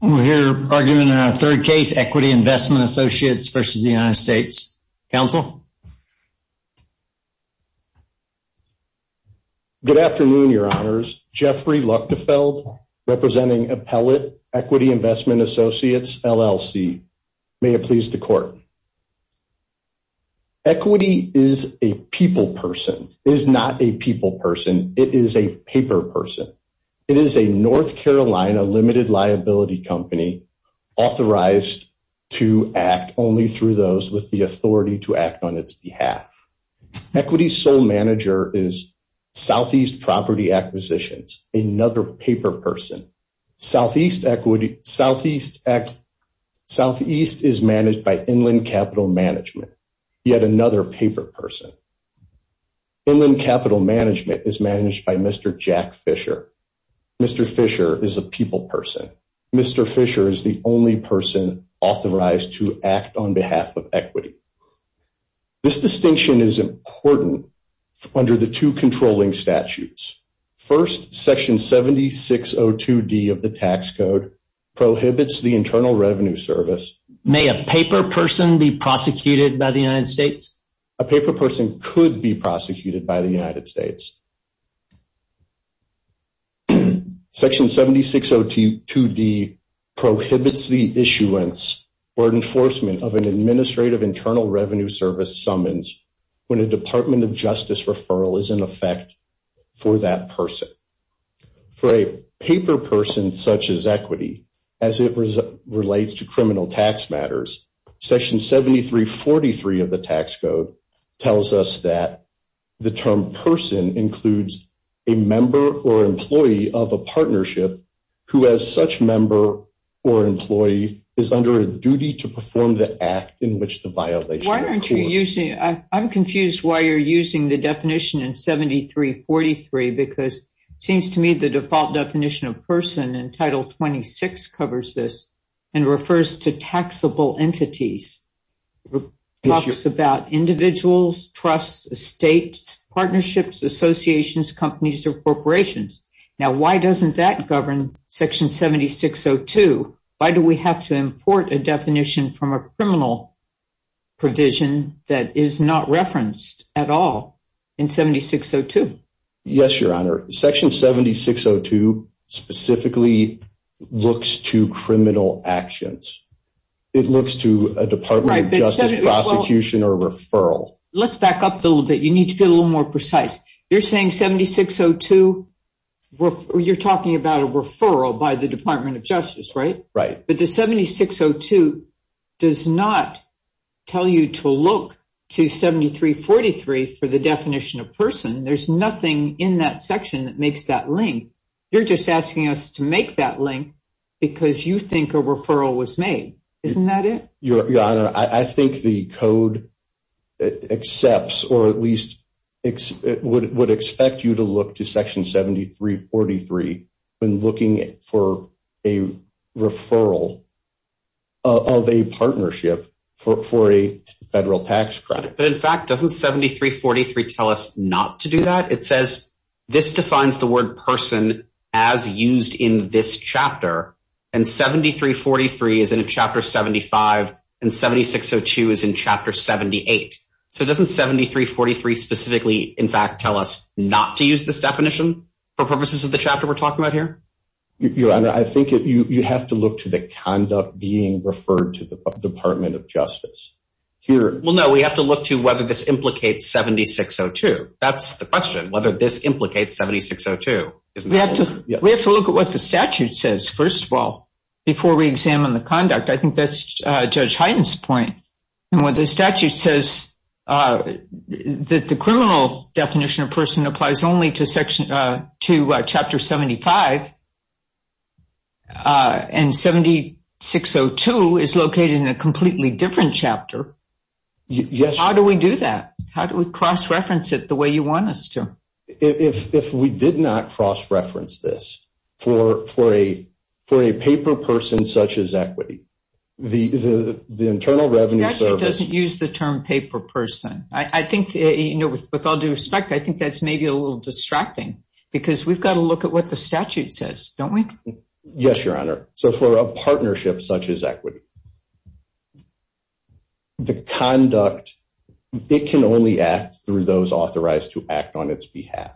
We'll hear argument in our third case, Equity Investment Associates versus the United States. Counsel? Good afternoon, your honors. Jeffrey Luchtefeld, representing Appellate Equity Investment Associates, LLC. May it please the court. Equity is a people person. It is not a people person. It is a paper person. It is a North Carolina limited liability company authorized to act only through those with the authority to act on its behalf. Equity's sole manager is Southeast Property Acquisitions, another paper person. Southeast is managed by Inland Capital Management, yet another paper person. Inland Capital Management is managed by Mr. Jack Fisher. Mr. Fisher is a people person. Mr. Fisher is the only person authorized to act on behalf of equity. This distinction is important under the two controlling statutes. First, Section 7602D of the Tax Code prohibits the Internal Revenue Service. May a paper person be prosecuted by the United States? A paper person could be prosecuted by the United States. Section 7602D prohibits the issuance or enforcement of an Administrative Internal Revenue Service summons when a Department of Justice referral is in effect for that person. For a paper person such as equity, as it relates to criminal tax matters, Section 7343 of the Tax Code tells us that the term person includes a member or employee of a partnership who as such member or employee is under a duty to perform the act in which the violation occurs. Why aren't you using, I'm confused why you're using the definition in 7343 because it seems to me the default definition of person in Title 26 covers this and refers to taxable entities. It talks about individuals, trusts, estates, partnerships, associations, companies or corporations. Now why doesn't that govern Section 7602? Why do we have to import a criminal provision that is not referenced at all in 7602? Yes, Your Honor. Section 7602 specifically looks to criminal actions. It looks to a Department of Justice prosecution or referral. Let's back up a little bit. You need to be a little more precise. You're saying 7602, you're talking about a referral by the Department of Justice, right? Right. But the 7602 does not tell you to look to 7343 for the definition of person. There's nothing in that section that makes that link. You're just asking us to make that link because you think a referral was made. Isn't that it? Your Honor, I think the code accepts or at 7343 when looking for a referral of a partnership for a federal tax credit. But in fact, doesn't 7343 tell us not to do that? It says this defines the word person as used in this chapter and 7343 is in a chapter 75 and 7602 is in chapter 78. So doesn't 7343 specifically in fact tell us not to use this definition for purposes of the chapter we're talking about here? Your Honor, I think you have to look to the conduct being referred to the Department of Justice. Well no, we have to look to whether this implicates 7602. That's the question, whether this implicates 7602. We have to look at what the statute says first of all before we examine the conduct. I think that's Judge Hyden's point and what the statute says that the criminal definition of person applies only to chapter 75 and 7602 is located in a completely different chapter. How do we do that? How do we cross-reference it the way you want us to? If we did not cross-reference this for a paper person such as equity, the Internal Revenue Service... The statute doesn't use the term paper person. I think, you know, with all due respect, I think that's maybe a little distracting because we've got to look at what the statute says, don't we? Yes, Your Honor. So for a partnership such as equity, the conduct, it can only act through those authorized to act on its behalf.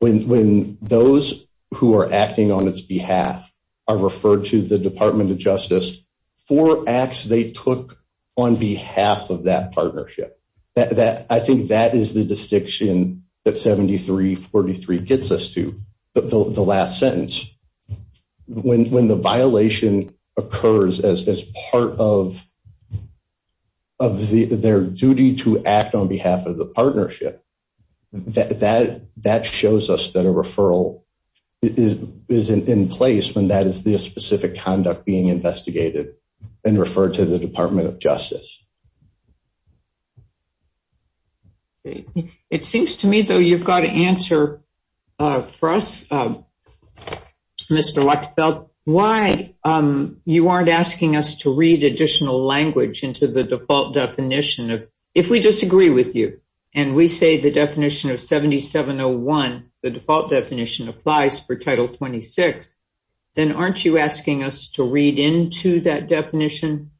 When those who are acting on its behalf are referred to the Department of Justice for acts they took on behalf of that partnership. I think that is the distinction that 7343 gets us to, the last sentence. When the violation occurs as part of their duty to act on behalf of the partnership, that shows us that a referral is in place when that is the specific conduct being investigated and the Department of Justice. It seems to me, though, you've got to answer for us, Mr. Wachtefeld, why you aren't asking us to read additional language into the default definition. If we disagree with you and we say the definition of 7701, the default definition, applies for Title 26, then aren't you asking us to read into that definition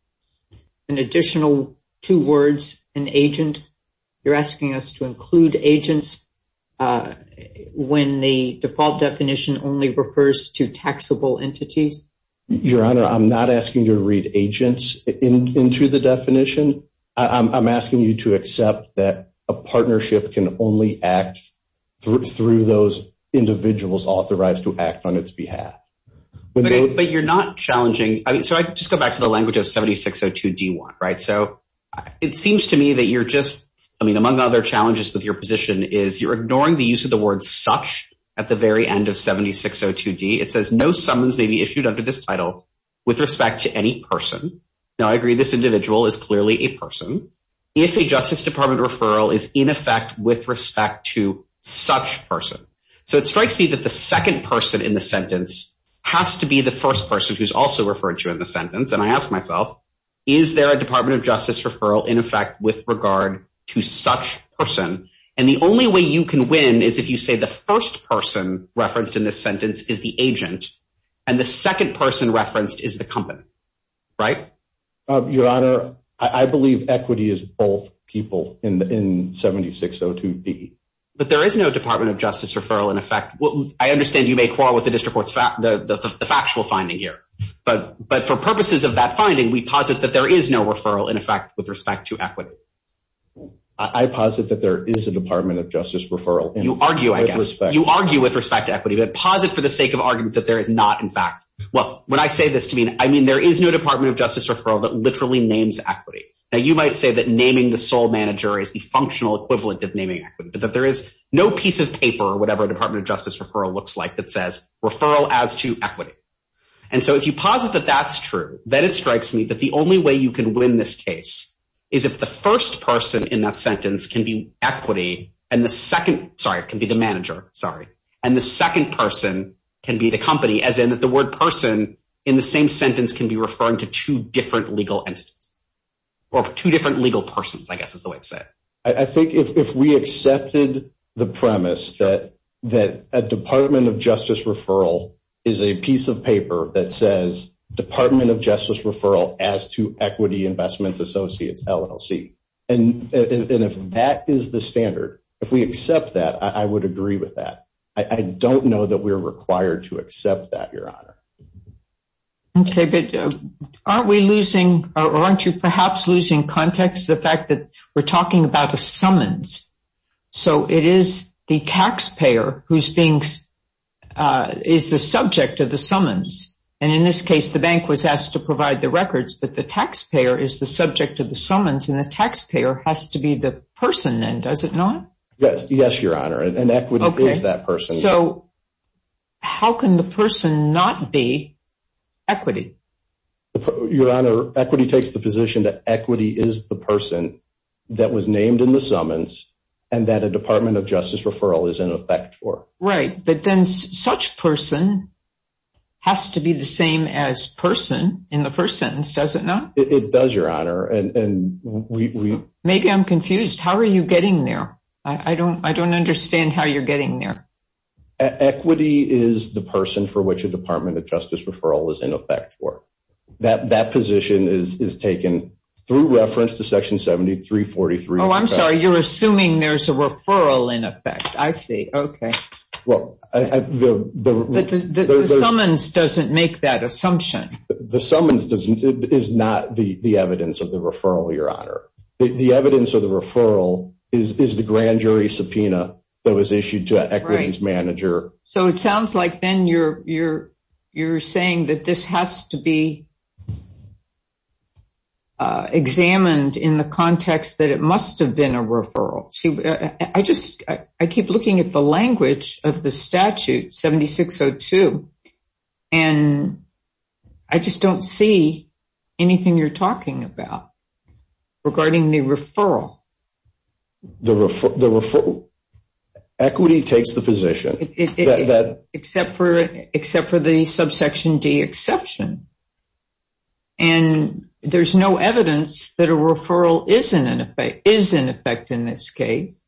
an additional two words, an agent? You're asking us to include agents when the default definition only refers to taxable entities? Your Honor, I'm not asking you to read agents into the definition. I'm asking you to accept that a partnership can only act through those individuals authorized to act on its behalf. But you're not challenging, I mean, so I just go back to the language of 7602D1, right? So it seems to me that you're just, I mean, among other challenges with your position is you're ignoring the use of the word such at the very end of 7602D. It says no summons may be issued under this title with respect to any person. Now I agree this individual is clearly a person. If a Justice Department referral is in effect with respect to such person. So it strikes me that the second person in the sentence has to be the first person who's also referred to in the sentence. And I ask myself, is there a Department of Justice referral in effect with regard to such person? And the only way you can win is if you say the first person referenced in this sentence is the agent and the second person referenced is the company, right? Your Honor, I believe equity is both people in 7602D. But there is no Department of Justice referral in effect. I understand you may quarrel with the district court's factual finding here, but for purposes of that finding, we posit that there is no referral in effect with respect to equity. I posit that there is a Department of Justice referral. You argue, I guess, you argue with respect to equity, but posit for the sake of argument that there is not in fact. Well, when I say this to mean, I mean, there is no Department of Justice referral that literally names equity. Now you might say that naming the sole manager is the functional equivalent of naming equity, but that there is no piece of paper or whatever a Department of Justice referral looks like that says referral as to equity. And so if you posit that that's true, then it strikes me that the only way you can win this case is if the first person in that sentence can be equity and the second, sorry, it can be the manager, sorry. And the second person can be the company as in that the word person in the same sentence can be or two different legal persons, I guess is the way to say it. I think if we accepted the premise that that a Department of Justice referral is a piece of paper that says Department of Justice referral as to equity investments associates LLC. And if that is the standard, if we accept that, I would agree with that. I don't know that we're required to accept that, Your Honor. Okay, but aren't we losing or aren't you perhaps losing context the fact that we're talking about a summons? So it is the taxpayer who's being is the subject of the summons. And in this case, the bank was asked to provide the records, but the taxpayer is the subject of the summons and the taxpayer has to be the person then, does it not? Yes, Your Honor. And that not be equity. Your Honor, equity takes the position that equity is the person that was named in the summons and that a Department of Justice referral is in effect for right. But then such person has to be the same as person in the first sentence, does it not? It does, Your Honor. And we maybe I'm confused. How are you getting there? I don't I don't understand how you're Justice referral is in effect for that. That position is taken through reference to Section 73 43. Oh, I'm sorry. You're assuming there's a referral in effect. I see. Okay. Well, the summons doesn't make that assumption. The summons doesn't is not the evidence of the referral. Your Honor, the evidence of the referral is the grand jury subpoena that was issued to equities manager. So it sounds like then you're you're you're saying that this has to be examined in the context that it must have been a referral. I just I keep looking at the language of the statute 76 02 and I just don't see anything you're talking about regarding the referral. The refer the referral equity takes the position that except for except for the subsection D exception and there's no evidence that a referral isn't an effect is in effect in this case.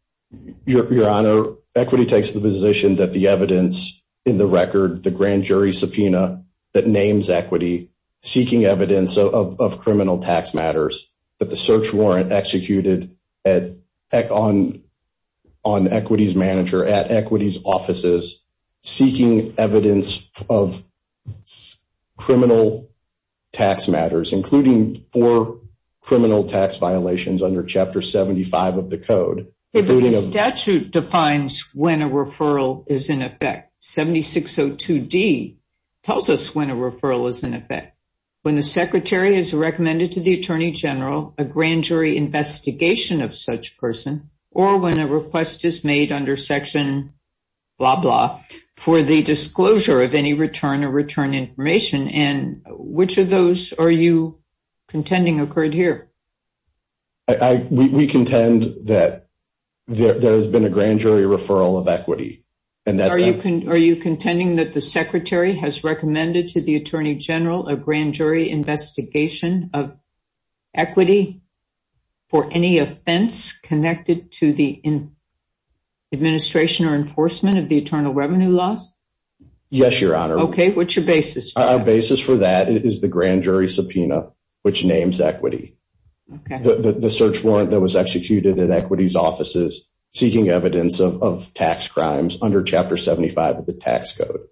Your Honor, equity takes the position that the evidence in the record, the grand jury subpoena that names equity seeking evidence of criminal tax matters that the search warrant executed at on on equities manager at equities offices seeking evidence of criminal tax matters, including for criminal tax violations under Chapter 75 of the code. Statute defines when a referral is in effect. 76 02 D tells us when a referral is in effect. When the secretary has recommended to the attorney general, a section blah blah for the disclosure of any return or return information. And which of those are you contending occurred here? We contend that there has been a grand jury referral of equity. And that are you? Are you contending that the secretary has recommended to the attorney general, a grand jury investigation of equity for any offense connected to the administration or enforcement of the eternal revenue loss? Yes, Your Honor. Okay, what's your basis? Our basis for that is the grand jury subpoena, which names equity. The search warrant that was executed in equities offices seeking evidence of tax crimes under Chapter 75 of the tax code.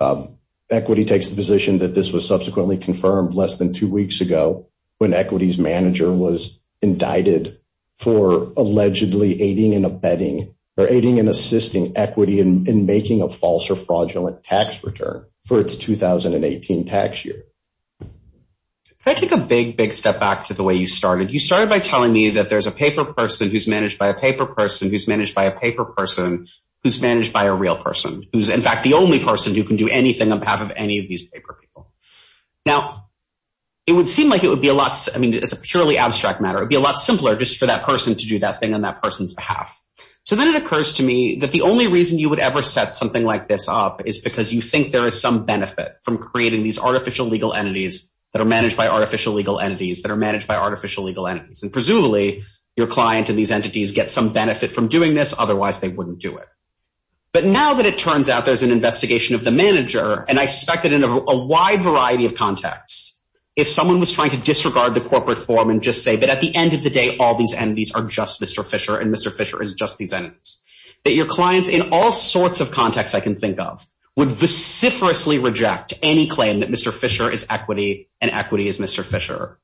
Um, equity takes the position that this was subsequently confirmed less than two weeks ago when equities manager was indicted for allegedly aiding and abetting or aiding and assisting equity and making a false or fraudulent tax return for its 2018 tax year. I think a big, big step back to the way you started. You started by telling me that there's a paper person who's managed by a paper person who's managed by a paper person who's managed by a real person who's, in fact, the only person who can do anything on behalf of any of these paper people. Now, it would seem like it would be a lot. I mean, it's a purely abstract matter. It'd be a lot simpler just for that person to do that thing on that person's behalf. So then it occurs to me that the only reason you would ever set something like this up is because you think there is some benefit from creating these artificial legal entities that are managed by artificial legal entities that are managed by artificial legal entities. And presumably, your client and these entities get some benefit from doing this. Otherwise, they wouldn't do it. But now that it turns out there's an investigation of the manager, and I suspect that in a wide variety of contexts, if someone was trying to disregard the corporate form and just say that at the end of the day, all these entities are just Mr. Fisher and Mr. Fisher is just these entities, that your clients in all sorts of contexts I can think of would vociferously reject any claim that Mr. Fisher is equity and equity is Mr. Fisher.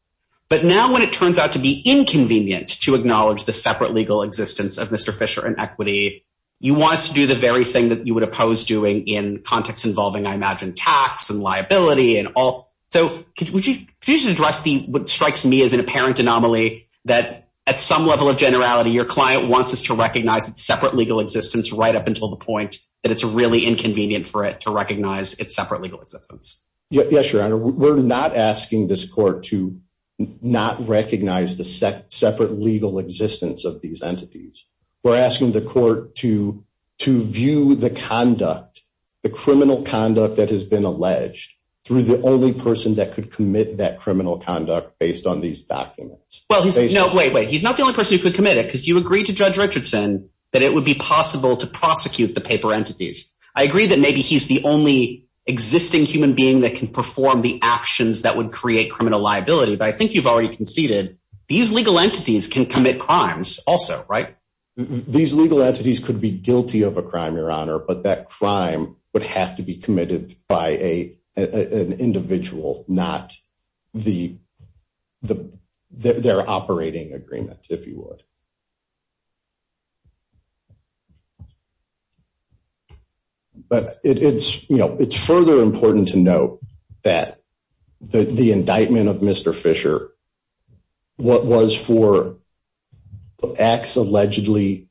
But now when it turns out to be inconvenient to acknowledge the separate legal existence of Mr. Fisher and in contexts involving, I imagine, tax and liability and all. So could you address what strikes me as an apparent anomaly that at some level of generality, your client wants us to recognize its separate legal existence right up until the point that it's really inconvenient for it to recognize its separate legal existence? Yes, Your Honor, we're not asking this court to not recognize the separate legal existence of these entities. We're asking the court to recognize the criminal conduct that has been alleged through the only person that could commit that criminal conduct based on these documents. Well, he's no, wait, wait, he's not the only person who could commit it because you agreed to Judge Richardson that it would be possible to prosecute the paper entities. I agree that maybe he's the only existing human being that can perform the actions that would create criminal liability. But I think you've already conceded these legal entities can commit crimes also, right? These legal entities could be guilty of a crime, would have to be committed by an individual, not their operating agreement, if you would. But it's further important to note that the indictment of Mr. Fisher, what was for acts allegedly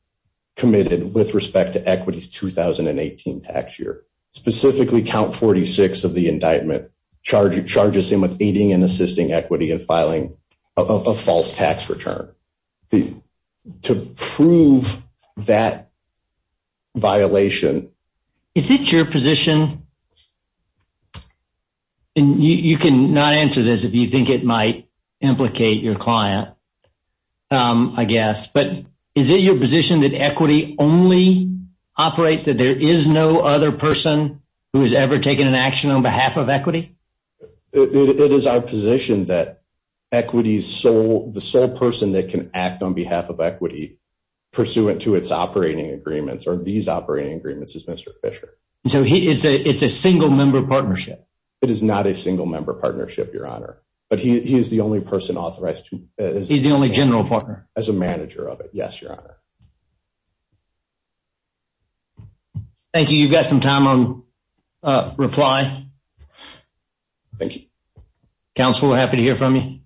committed with respect to Equity's 2018 tax year, specifically count 46 of the indictment, charges him with aiding and assisting Equity in filing a false tax return. To prove that violation. Is it your position? And you can not answer this if you think it might implicate your client, I guess. But is it your position that operates that there is no other person who has ever taken an action on behalf of Equity? It is our position that Equity's sole, the sole person that can act on behalf of Equity pursuant to its operating agreements or these operating agreements is Mr. Fisher. So he is a it's a single member partnership. It is not a single member partnership, Your Honor. But he is the only person authorized. He's the only general partner as a manager of it. Yes, Your Thank you. You've got some time on reply. Thank you, Counselor. Happy to hear from you.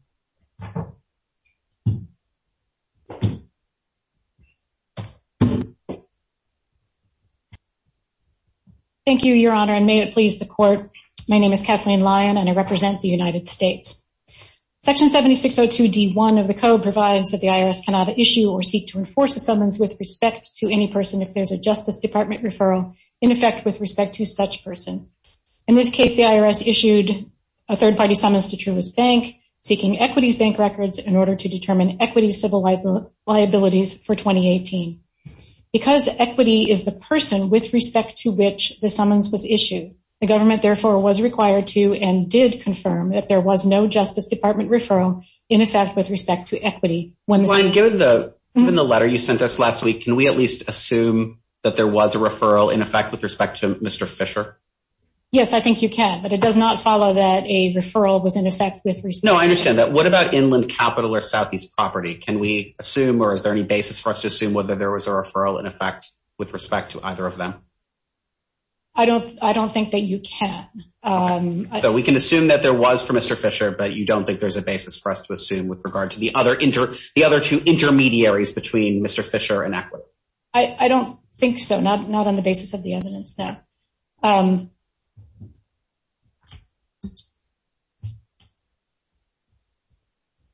Thank you, Your Honor. And may it please the court. My name is Kathleen Lyon and I represent the United States. Section 7602 D one of the code provides that the IRS cannot issue or seek to enforce a summons with respect to any person if there's a Justice Department referral in effect with respect to such person. In this case, the IRS issued a third party summons to Truist Bank seeking Equity's bank records in order to determine Equity's civil liabilities for 2018. Because Equity is the person with respect to which the summons was issued, the government therefore was required to and did confirm that there was no Justice Department referral in effect with respect to Equity. When the line given the in the letter you sent us last week, can we at least assume that there was a referral in effect with respect to Mr Fisher? Yes, I think you can. But it does not follow that a referral was in effect with. No, I understand that. What about inland capital or southeast property? Can we assume? Or is there any basis for us to assume whether there was a referral in effect with respect to either of them? I don't. I don't think that you can. Um, we can assume that there was for Mr Fisher, but you don't think there's a basis for us to assume with regard to the other inter the other two intermediaries between Mr Fisher and Equity? I don't think so. Not not on the basis of the evidence now. Um,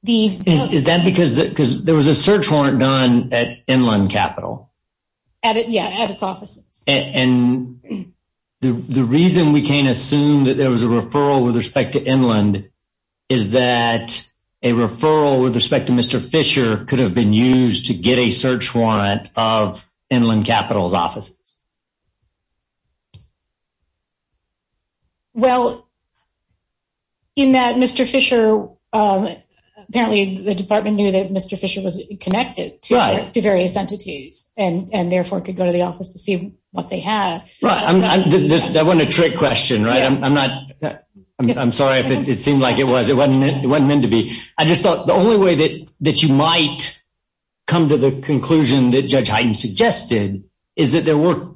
the is that because there was a search warrant done at inland capital at it? Yeah, at its offices. And the reason we can't assume that there was a referral with respect to inland is that a referral with respect to Mr Fisher could have been used to get a search warrant of inland capitals offices. Well, in that Mr Fisher, um, apparently the department knew that Mr Fisher was connected to various entities and and therefore could go to the office to see what they have. That wasn't a trick question, right? I'm not. I'm sorry if it seemed like it was. It wasn't meant to be. I just thought the only way that that you might come to the conclusion that Judge Highton suggested is that there were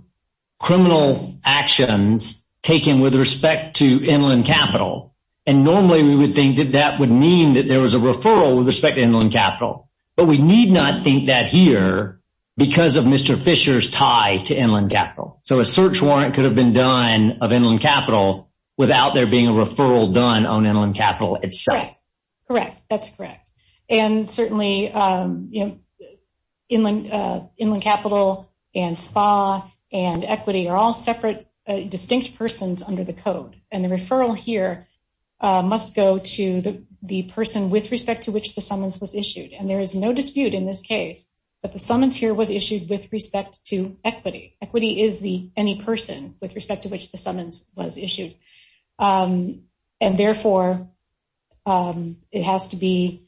criminal actions taken with respect to inland capital. And normally we would think that that would mean that there was a referral with respect to inland capital. But we need not think that here because of Mr Fisher's tie to capital. So a search warrant could have been done of inland capital without there being a referral done on inland capital. It's correct, correct. That's correct. And certainly, um, you know, inland, uh, inland capital and spa and equity are all separate, distinct persons under the code. And the referral here must go to the person with respect to which the summons was issued. And there is no dispute in this case that the summons here was issued with respect to equity. Equity is the any person with respect to which the summons was issued. Um, and therefore, um, it has to be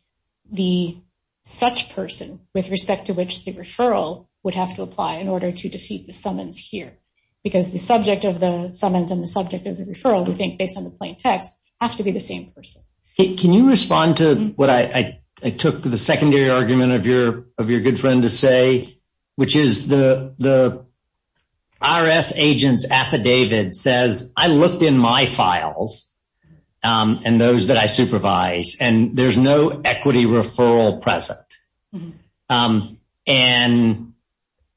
the such person with respect to which the referral would have to apply in order to defeat the summons here. Because the subject of the summons and the subject of the referral, we think, based on the plain text, have to be the same person. Can you respond to what I took the secondary argument of your of your good friend to which is the the IRS agents affidavit says, I looked in my files, um, and those that I supervise, and there's no equity referral present. Um, and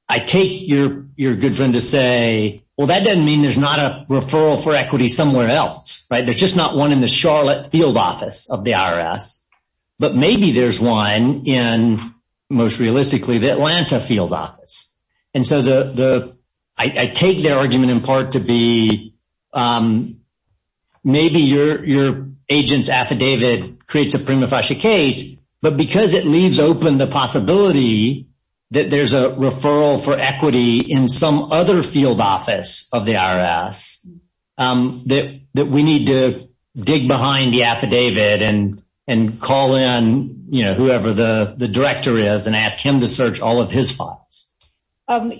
I take your your good friend to say, well, that doesn't mean there's not a referral for equity somewhere else, right? There's just not one in the Charlotte field office of the IRS. But maybe there's one in most realistically, the Atlanta field office. And so the I take their argument in part to be, um, maybe your your agents affidavit creates a prima facie case, but because it leaves open the possibility that there's a referral for equity in some other field office of the IRS, um, that that we need to dig behind the affidavit and, and call in, you know, whoever the director is and ask him to search all of his files. Um,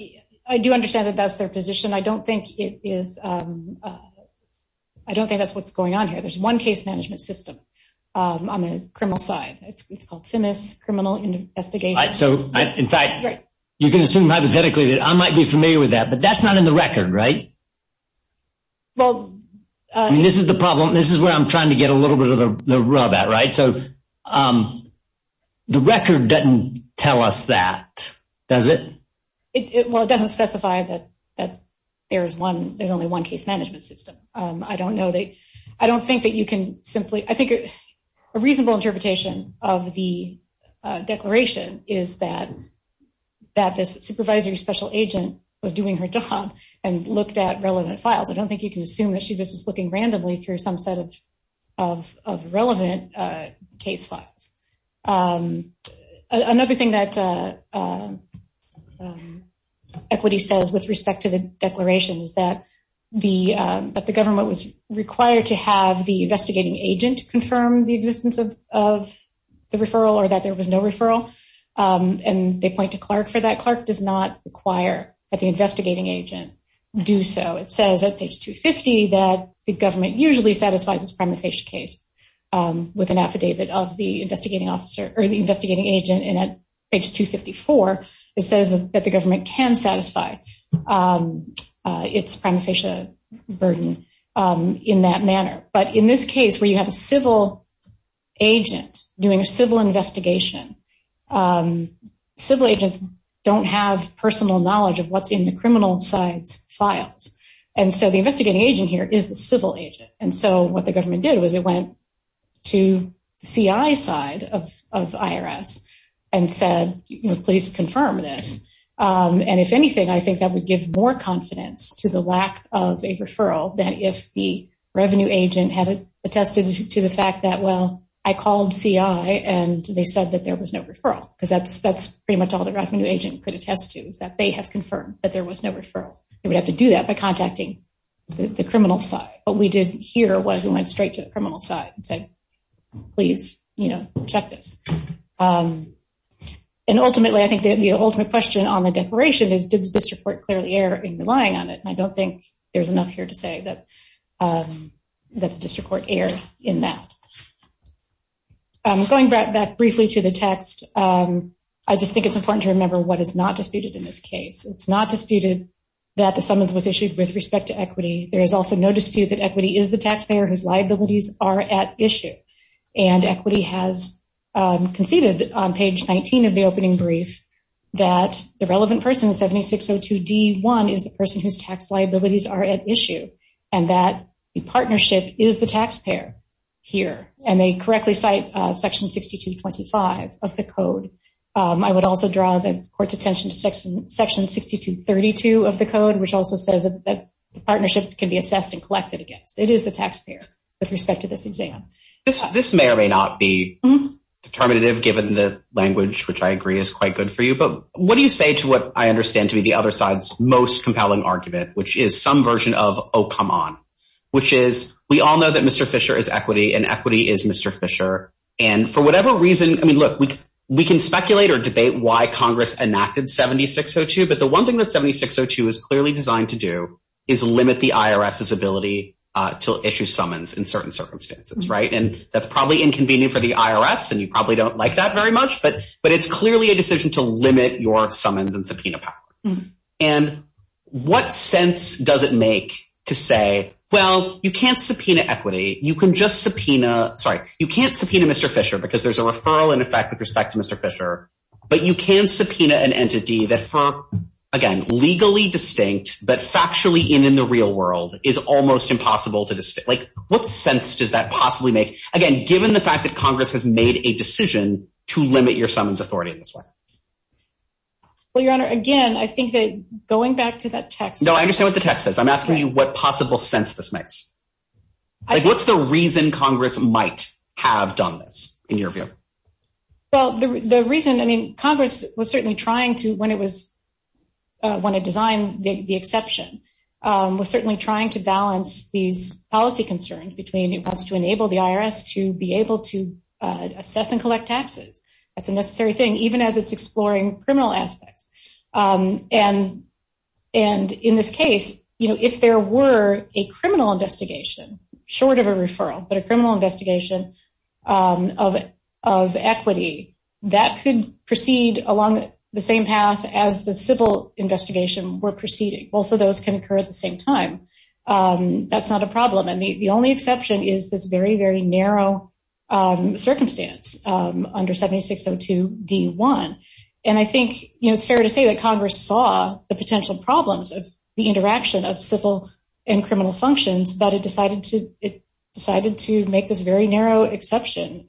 I do understand that that's their position. I don't think it is. I don't think that's what's going on here. There's one case management system on the criminal side. It's called Sinus criminal investigation. So in fact, you can assume hypothetically that I might be familiar with that, but that's not in the record, right? Well, this is the problem. This is where I'm trying to get a little bit of the um, the record didn't tell us that, does it? Well, it doesn't specify that there's one. There's only one case management system. I don't know that I don't think that you can simply I think a reasonable interpretation of the declaration is that that this supervisory special agent was doing her job and looked at relevant files. I don't think you can assume that she was just looking randomly through some set of of relevant case files. Um, another thing that, uh, um, equity says with respect to the declaration is that the government was required to have the investigating agent confirm the existence of the referral or that there was no referral. Um, and they point to Clark for that. Clark does not require that the investigating agent do so. It says at page 2 50 that the government usually satisfies its prima facie case with an affidavit of the investigating officer or the investigating agent. And at page 2 54, it says that the government can satisfy, um, its prima facie burden, um, in that manner. But in this case where you have a civil agent doing a civil investigation, um, civil agents don't have personal knowledge of what's in the criminal side's files. And so the investigating agent here is the civil agent. And so what the government did was it went to CI side of IRS and said, please confirm this. Um, and if anything, I think that would give more confidence to the lack of a referral that if the revenue agent had attested to the fact that, well, I called CI and they said that there was no referral because that's that's pretty much all the revenue agent could attest to is that they have confirmed that there was no referral. They would have to do that by contacting the criminal side. What we did here was we went straight to the criminal side and said, please, you know, check this. Um, and ultimately, I think the ultimate question on the declaration is, did the district court clearly err in relying on it? I don't think there's enough here to say that, um, that the district court erred in that. I'm going back briefly to the text. Um, I just think it's important to case. It's not disputed that the summons was issued with respect to equity. There is also no dispute that equity is the taxpayer whose liabilities are at issue. And equity has, um, conceded on page 19 of the opening brief that the relevant person in 7602 D one is the person whose tax liabilities are at issue and that the partnership is the taxpayer here. And they correctly cite section 62 25 of the code. Um, I would also draw the attention to section section 62 32 of the code, which also says that partnership can be assessed and collected against. It is the taxpayer with respect to this exam. This may or may not be determinative, given the language, which I agree is quite good for you. But what do you say to what I understand to be the other side's most compelling argument, which is some version of Oh, come on, which is we all know that Mr Fisher is equity and equity is Mr Fisher. And for whatever reason, I mean, look, we can speculate or debate why Congress enacted 7602. But the one thing that 7602 is clearly designed to do is limit the IRS's ability to issue summons in certain circumstances, right? And that's probably inconvenient for the IRS, and you probably don't like that very much. But but it's clearly a decision to limit your summons and subpoena power. And what sense does it make to say? Well, you can't subpoena equity. You can just subpoena. Sorry. You can't subpoena Mr Fisher because there's a referral in effect with respect to Mr Fisher. But you can subpoena an entity that for again, legally distinct, but factually in in the real world is almost impossible to just like what sense does that possibly make again, given the fact that Congress has made a decision to limit your summons authority in this way? Well, Your Honor, again, I think that going back to that text, no, I understand what the text says. I'm asking you what possible sense this makes. What's the reason Congress might have done this in your view? Well, the reason I mean, Congress was certainly trying to when it was when it designed the exception was certainly trying to balance these policy concerns between it wants to enable the IRS to be able to assess and collect taxes. That's a necessary thing, even as it's exploring criminal aspects. And, and in this case, you know, if there were a criminal investigation, short of a equity that could proceed along the same path as the civil investigation were proceeding, both of those concur at the same time. That's not a problem. And the only exception is this very, very narrow circumstance under 7602 D one. And I think it's fair to say that Congress saw the potential problems of the interaction of civil and criminal functions, but it decided to it decided to make this very narrow exception.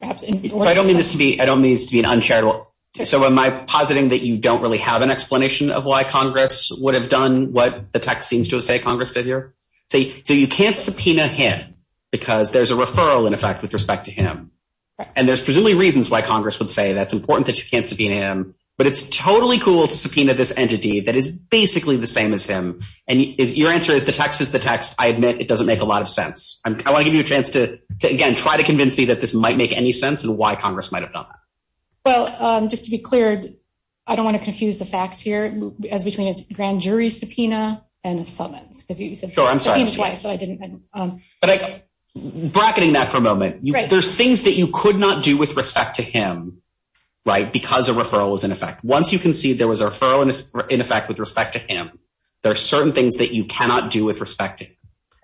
Perhaps I don't mean this to be I don't mean it's to be an uncharitable. So am I positing that you don't really have an explanation of why Congress would have done what the text seems to say Congress did here? So you can't subpoena him, because there's a referral in effect with respect to him. And there's presumably reasons why Congress would say that's important that you can't subpoena him. But it's totally cool to subpoena this entity that is basically the same as him. And is your answer is the text is the text, I admit, it gives you a chance to, again, try to convince me that this might make any sense and why Congress might have done that. Well, just to be clear, I don't want to confuse the facts here as between a grand jury subpoena and a summons because he said, Sure, I'm sorry. So I didn't. But I bracketing that for a moment, right? There's things that you could not do with respect to him. Right? Because a referral is in effect. Once you can see there was a referral in effect with respect to him. There are certain things that you cannot do with respect.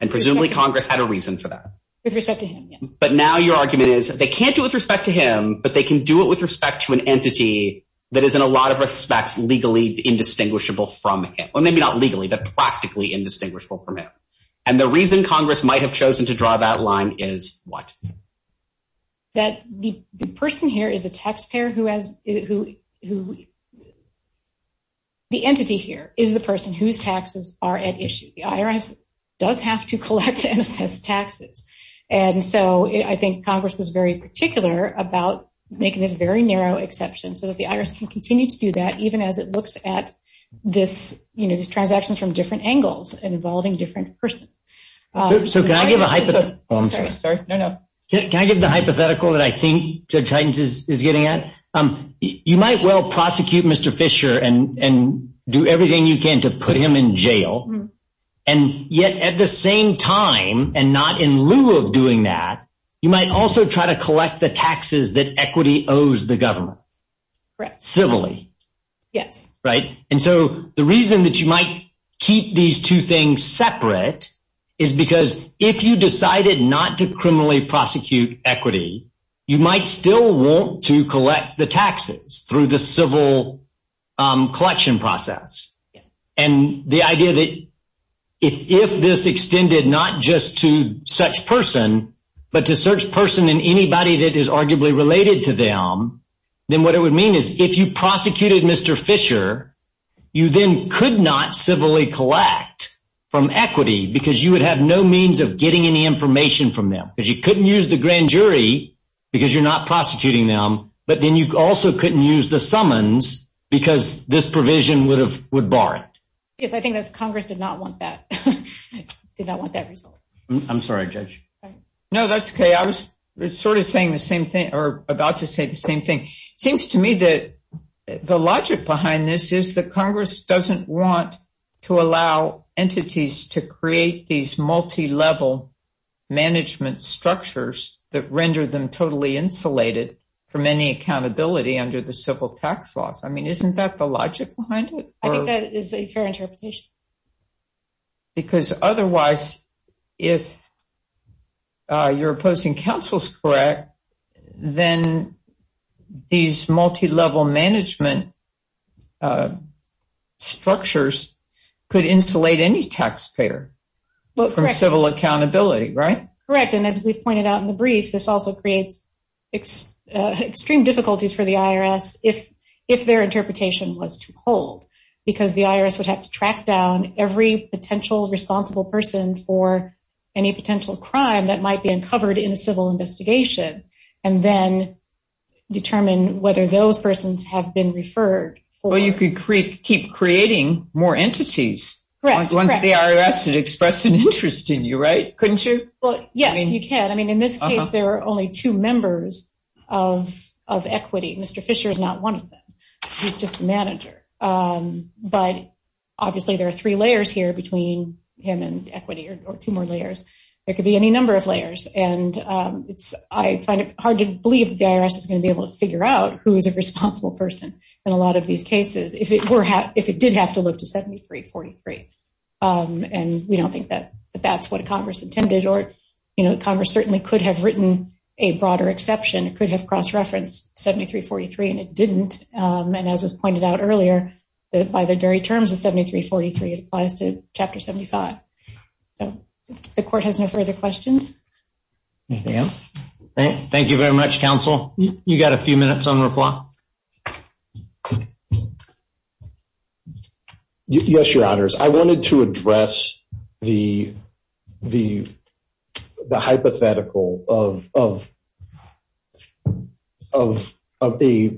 And presumably, Congress had a with respect to him. But now your argument is they can't do with respect to him. But they can do it with respect to an entity that is in a lot of respects legally indistinguishable from him, or maybe not legally, but practically indistinguishable from him. And the reason Congress might have chosen to draw that line is what? That the person here is a taxpayer who has who, who, the entity here is the person whose taxes are at issue, the IRS does have to assess taxes. And so I think Congress was very particular about making this very narrow exception so that the IRS can continue to do that, even as it looks at this, you know, these transactions from different angles and involving different persons. So can I give a hypothetical? Sorry, no, no. Can I give the hypothetical that I think Judge Hytens is getting at? Um, you might well prosecute Mr. Fisher and and do everything you can to put him in time and not in lieu of doing that, you might also try to collect the taxes that equity owes the government, right civilly. Yes. Right. And so the reason that you might keep these two things separate is because if you decided not to criminally prosecute equity, you might still want to collect the taxes through the civil collection process. And the idea that if if this extended not just to such person, but to search person in anybody that is arguably related to them, then what it would mean is if you prosecuted Mr. Fisher, you then could not civilly collect from equity because you would have no means of getting any information from them because you couldn't use the grand jury because you're not prosecuting them. But then you also couldn't use the summons because this provision would have would bar it. Yes, I think that's Congress did not want that did not want that result. I'm sorry, Judge. No, that's okay. I was sort of saying the same thing or about to say the same thing. Seems to me that the logic behind this is that Congress doesn't want to allow entities to create these multi level management structures that render them totally insulated from any accountability under the civil tax laws. I mean, isn't that the logic behind it? I think that is a fair interpretation. Because otherwise, if you're opposing counsel's correct, then these multi level management structures could insulate any taxpayer from civil accountability, right? Correct. And as we've pointed out in the brief, this also creates extreme difficulties for the IRS if if their to track down every potential responsible person for any potential crime that might be uncovered in a civil investigation, and then determine whether those persons have been referred. Well, you could create keep creating more entities. Once the IRS had expressed an interest in you, right? Couldn't you? Well, yes, you can. I mean, in this case, there are only two members of of equity. Mr. Fisher is not one of them. He's just the manager. But obviously, there are three layers here between him and equity or two more layers. There could be any number of layers. And it's I find it hard to believe the IRS is going to be able to figure out who is a responsible person in a lot of these cases if it were half if it did have to look to 7343. And we don't think that that's what Congress intended. Or, you know, Congress certainly could have written a broader exception, it could have cross pointed out earlier that by the very terms of 7343 applies to Chapter 75. The court has no further questions. Yes. Thank you very much, counsel. You got a few minutes on reply. Yes, your honors. I wanted to address the the hypothetical of of of a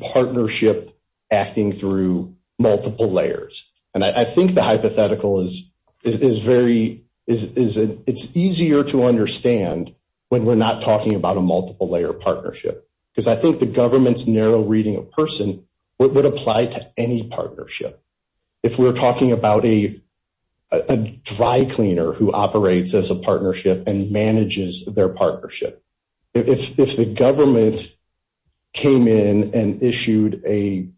partnership acting through multiple layers. And I think the hypothetical is is very is it's easier to understand when we're not talking about a multiple layer partnership, because I think the government's narrow reading of person would apply to any partnership. If we're talking about a dry cleaner who operates as a partnership and manages their government came in and issued a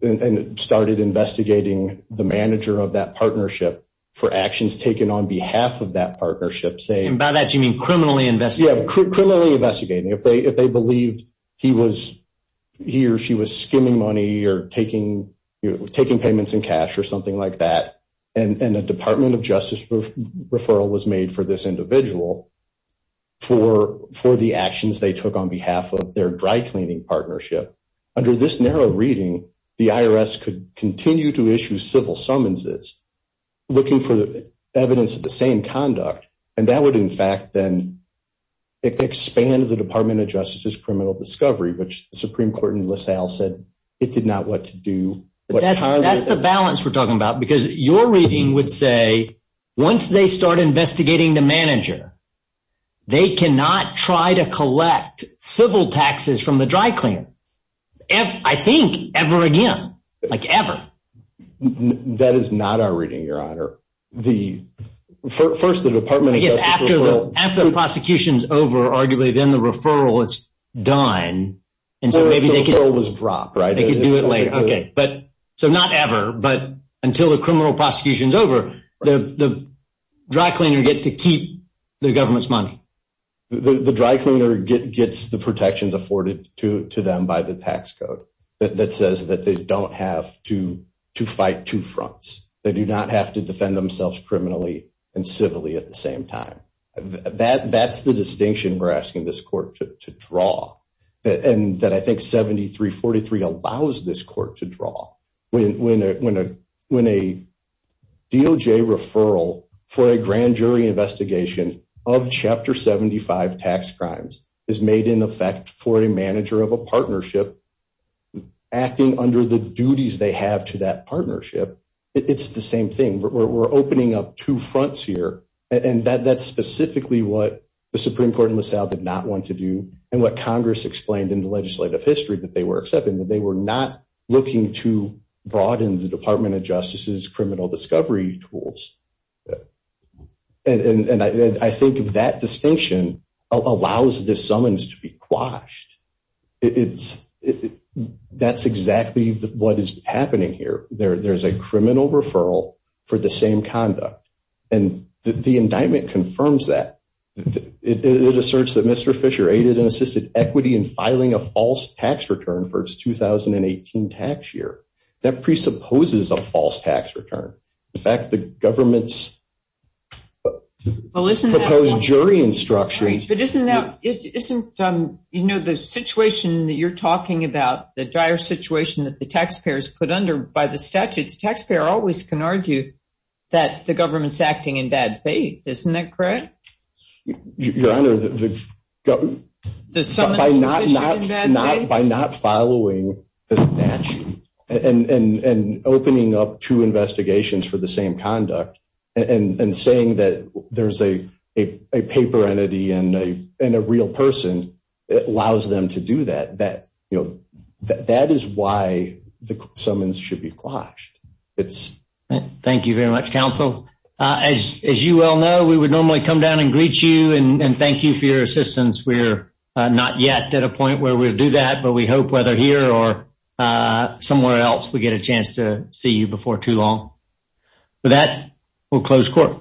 and started investigating the manager of that partnership for actions taken on behalf of that partnership. Say about that you mean criminally invest? Yeah, criminally investigating if they if they believed he was here, she was skimming money or taking taking payments in cash or something like that. And the Department of Justice referral was made for this individual for for the actions they took on behalf of their dry cleaning partnership. Under this narrow reading, the I. R. S. could continue to issue civil summons. It's looking for the evidence of the same conduct, and that would, in fact, then expand the Department of Justice is criminal discovery, which Supreme Court in LaSalle said it did not want to do. But that's the balance we're talking about, because you're reading would say once they start investigating the manager, they cannot try to collect civil taxes from the dry cleaner. I think ever again, like ever. That is not our reading your honor. The first the department, I guess, after the prosecution's over, arguably, then the referral is done. And so maybe they could always drop right. They could do it later. Okay, so not ever. But until the criminal prosecution's over, the dry cleaner gets to keep the government's money. The dry cleaner gets the protections afforded to them by the tax code that says that they don't have to fight two fronts. They do not have to defend themselves criminally and civilly at the same time. That that's the distinction we're asking this court to draw when a when a when a deal J. Referral for a grand jury investigation of Chapter 75 tax crimes is made in effect for a manager of a partnership acting under the duties they have to that partnership. It's the same thing. We're opening up two fronts here, and that that's specifically what the Supreme Court in the South did not want to do and what Congress explained in legislative history that they were accepting that they were not looking to broaden the Department of Justice's criminal discovery tools. And I think of that distinction allows this summons to be quashed. It's that's exactly what is happening here. There's a criminal referral for the same conduct, and the indictment confirms that it asserts that Mr Fisher aided and assisted equity in filing a false tax return for its 2018 tax year. That presupposes a false tax return. In fact, the government's well, isn't proposed jury instructions. But isn't that isn't, you know, the situation that you're talking about the dire situation that the taxpayers put under by the statute, the taxpayer always can argue that the government's government by not not not by not following the statute and opening up two investigations for the same conduct and saying that there's a paper entity and a and a real person that allows them to do that. That you know, that is why the summons should be quashed. It's thank you very much, Council. As you well know, we would normally come down and greet you and thank you for your assistance. We're not yet at a point where we'll do that. But we hope whether here or somewhere else, we get a chance to see you before too long that will close court.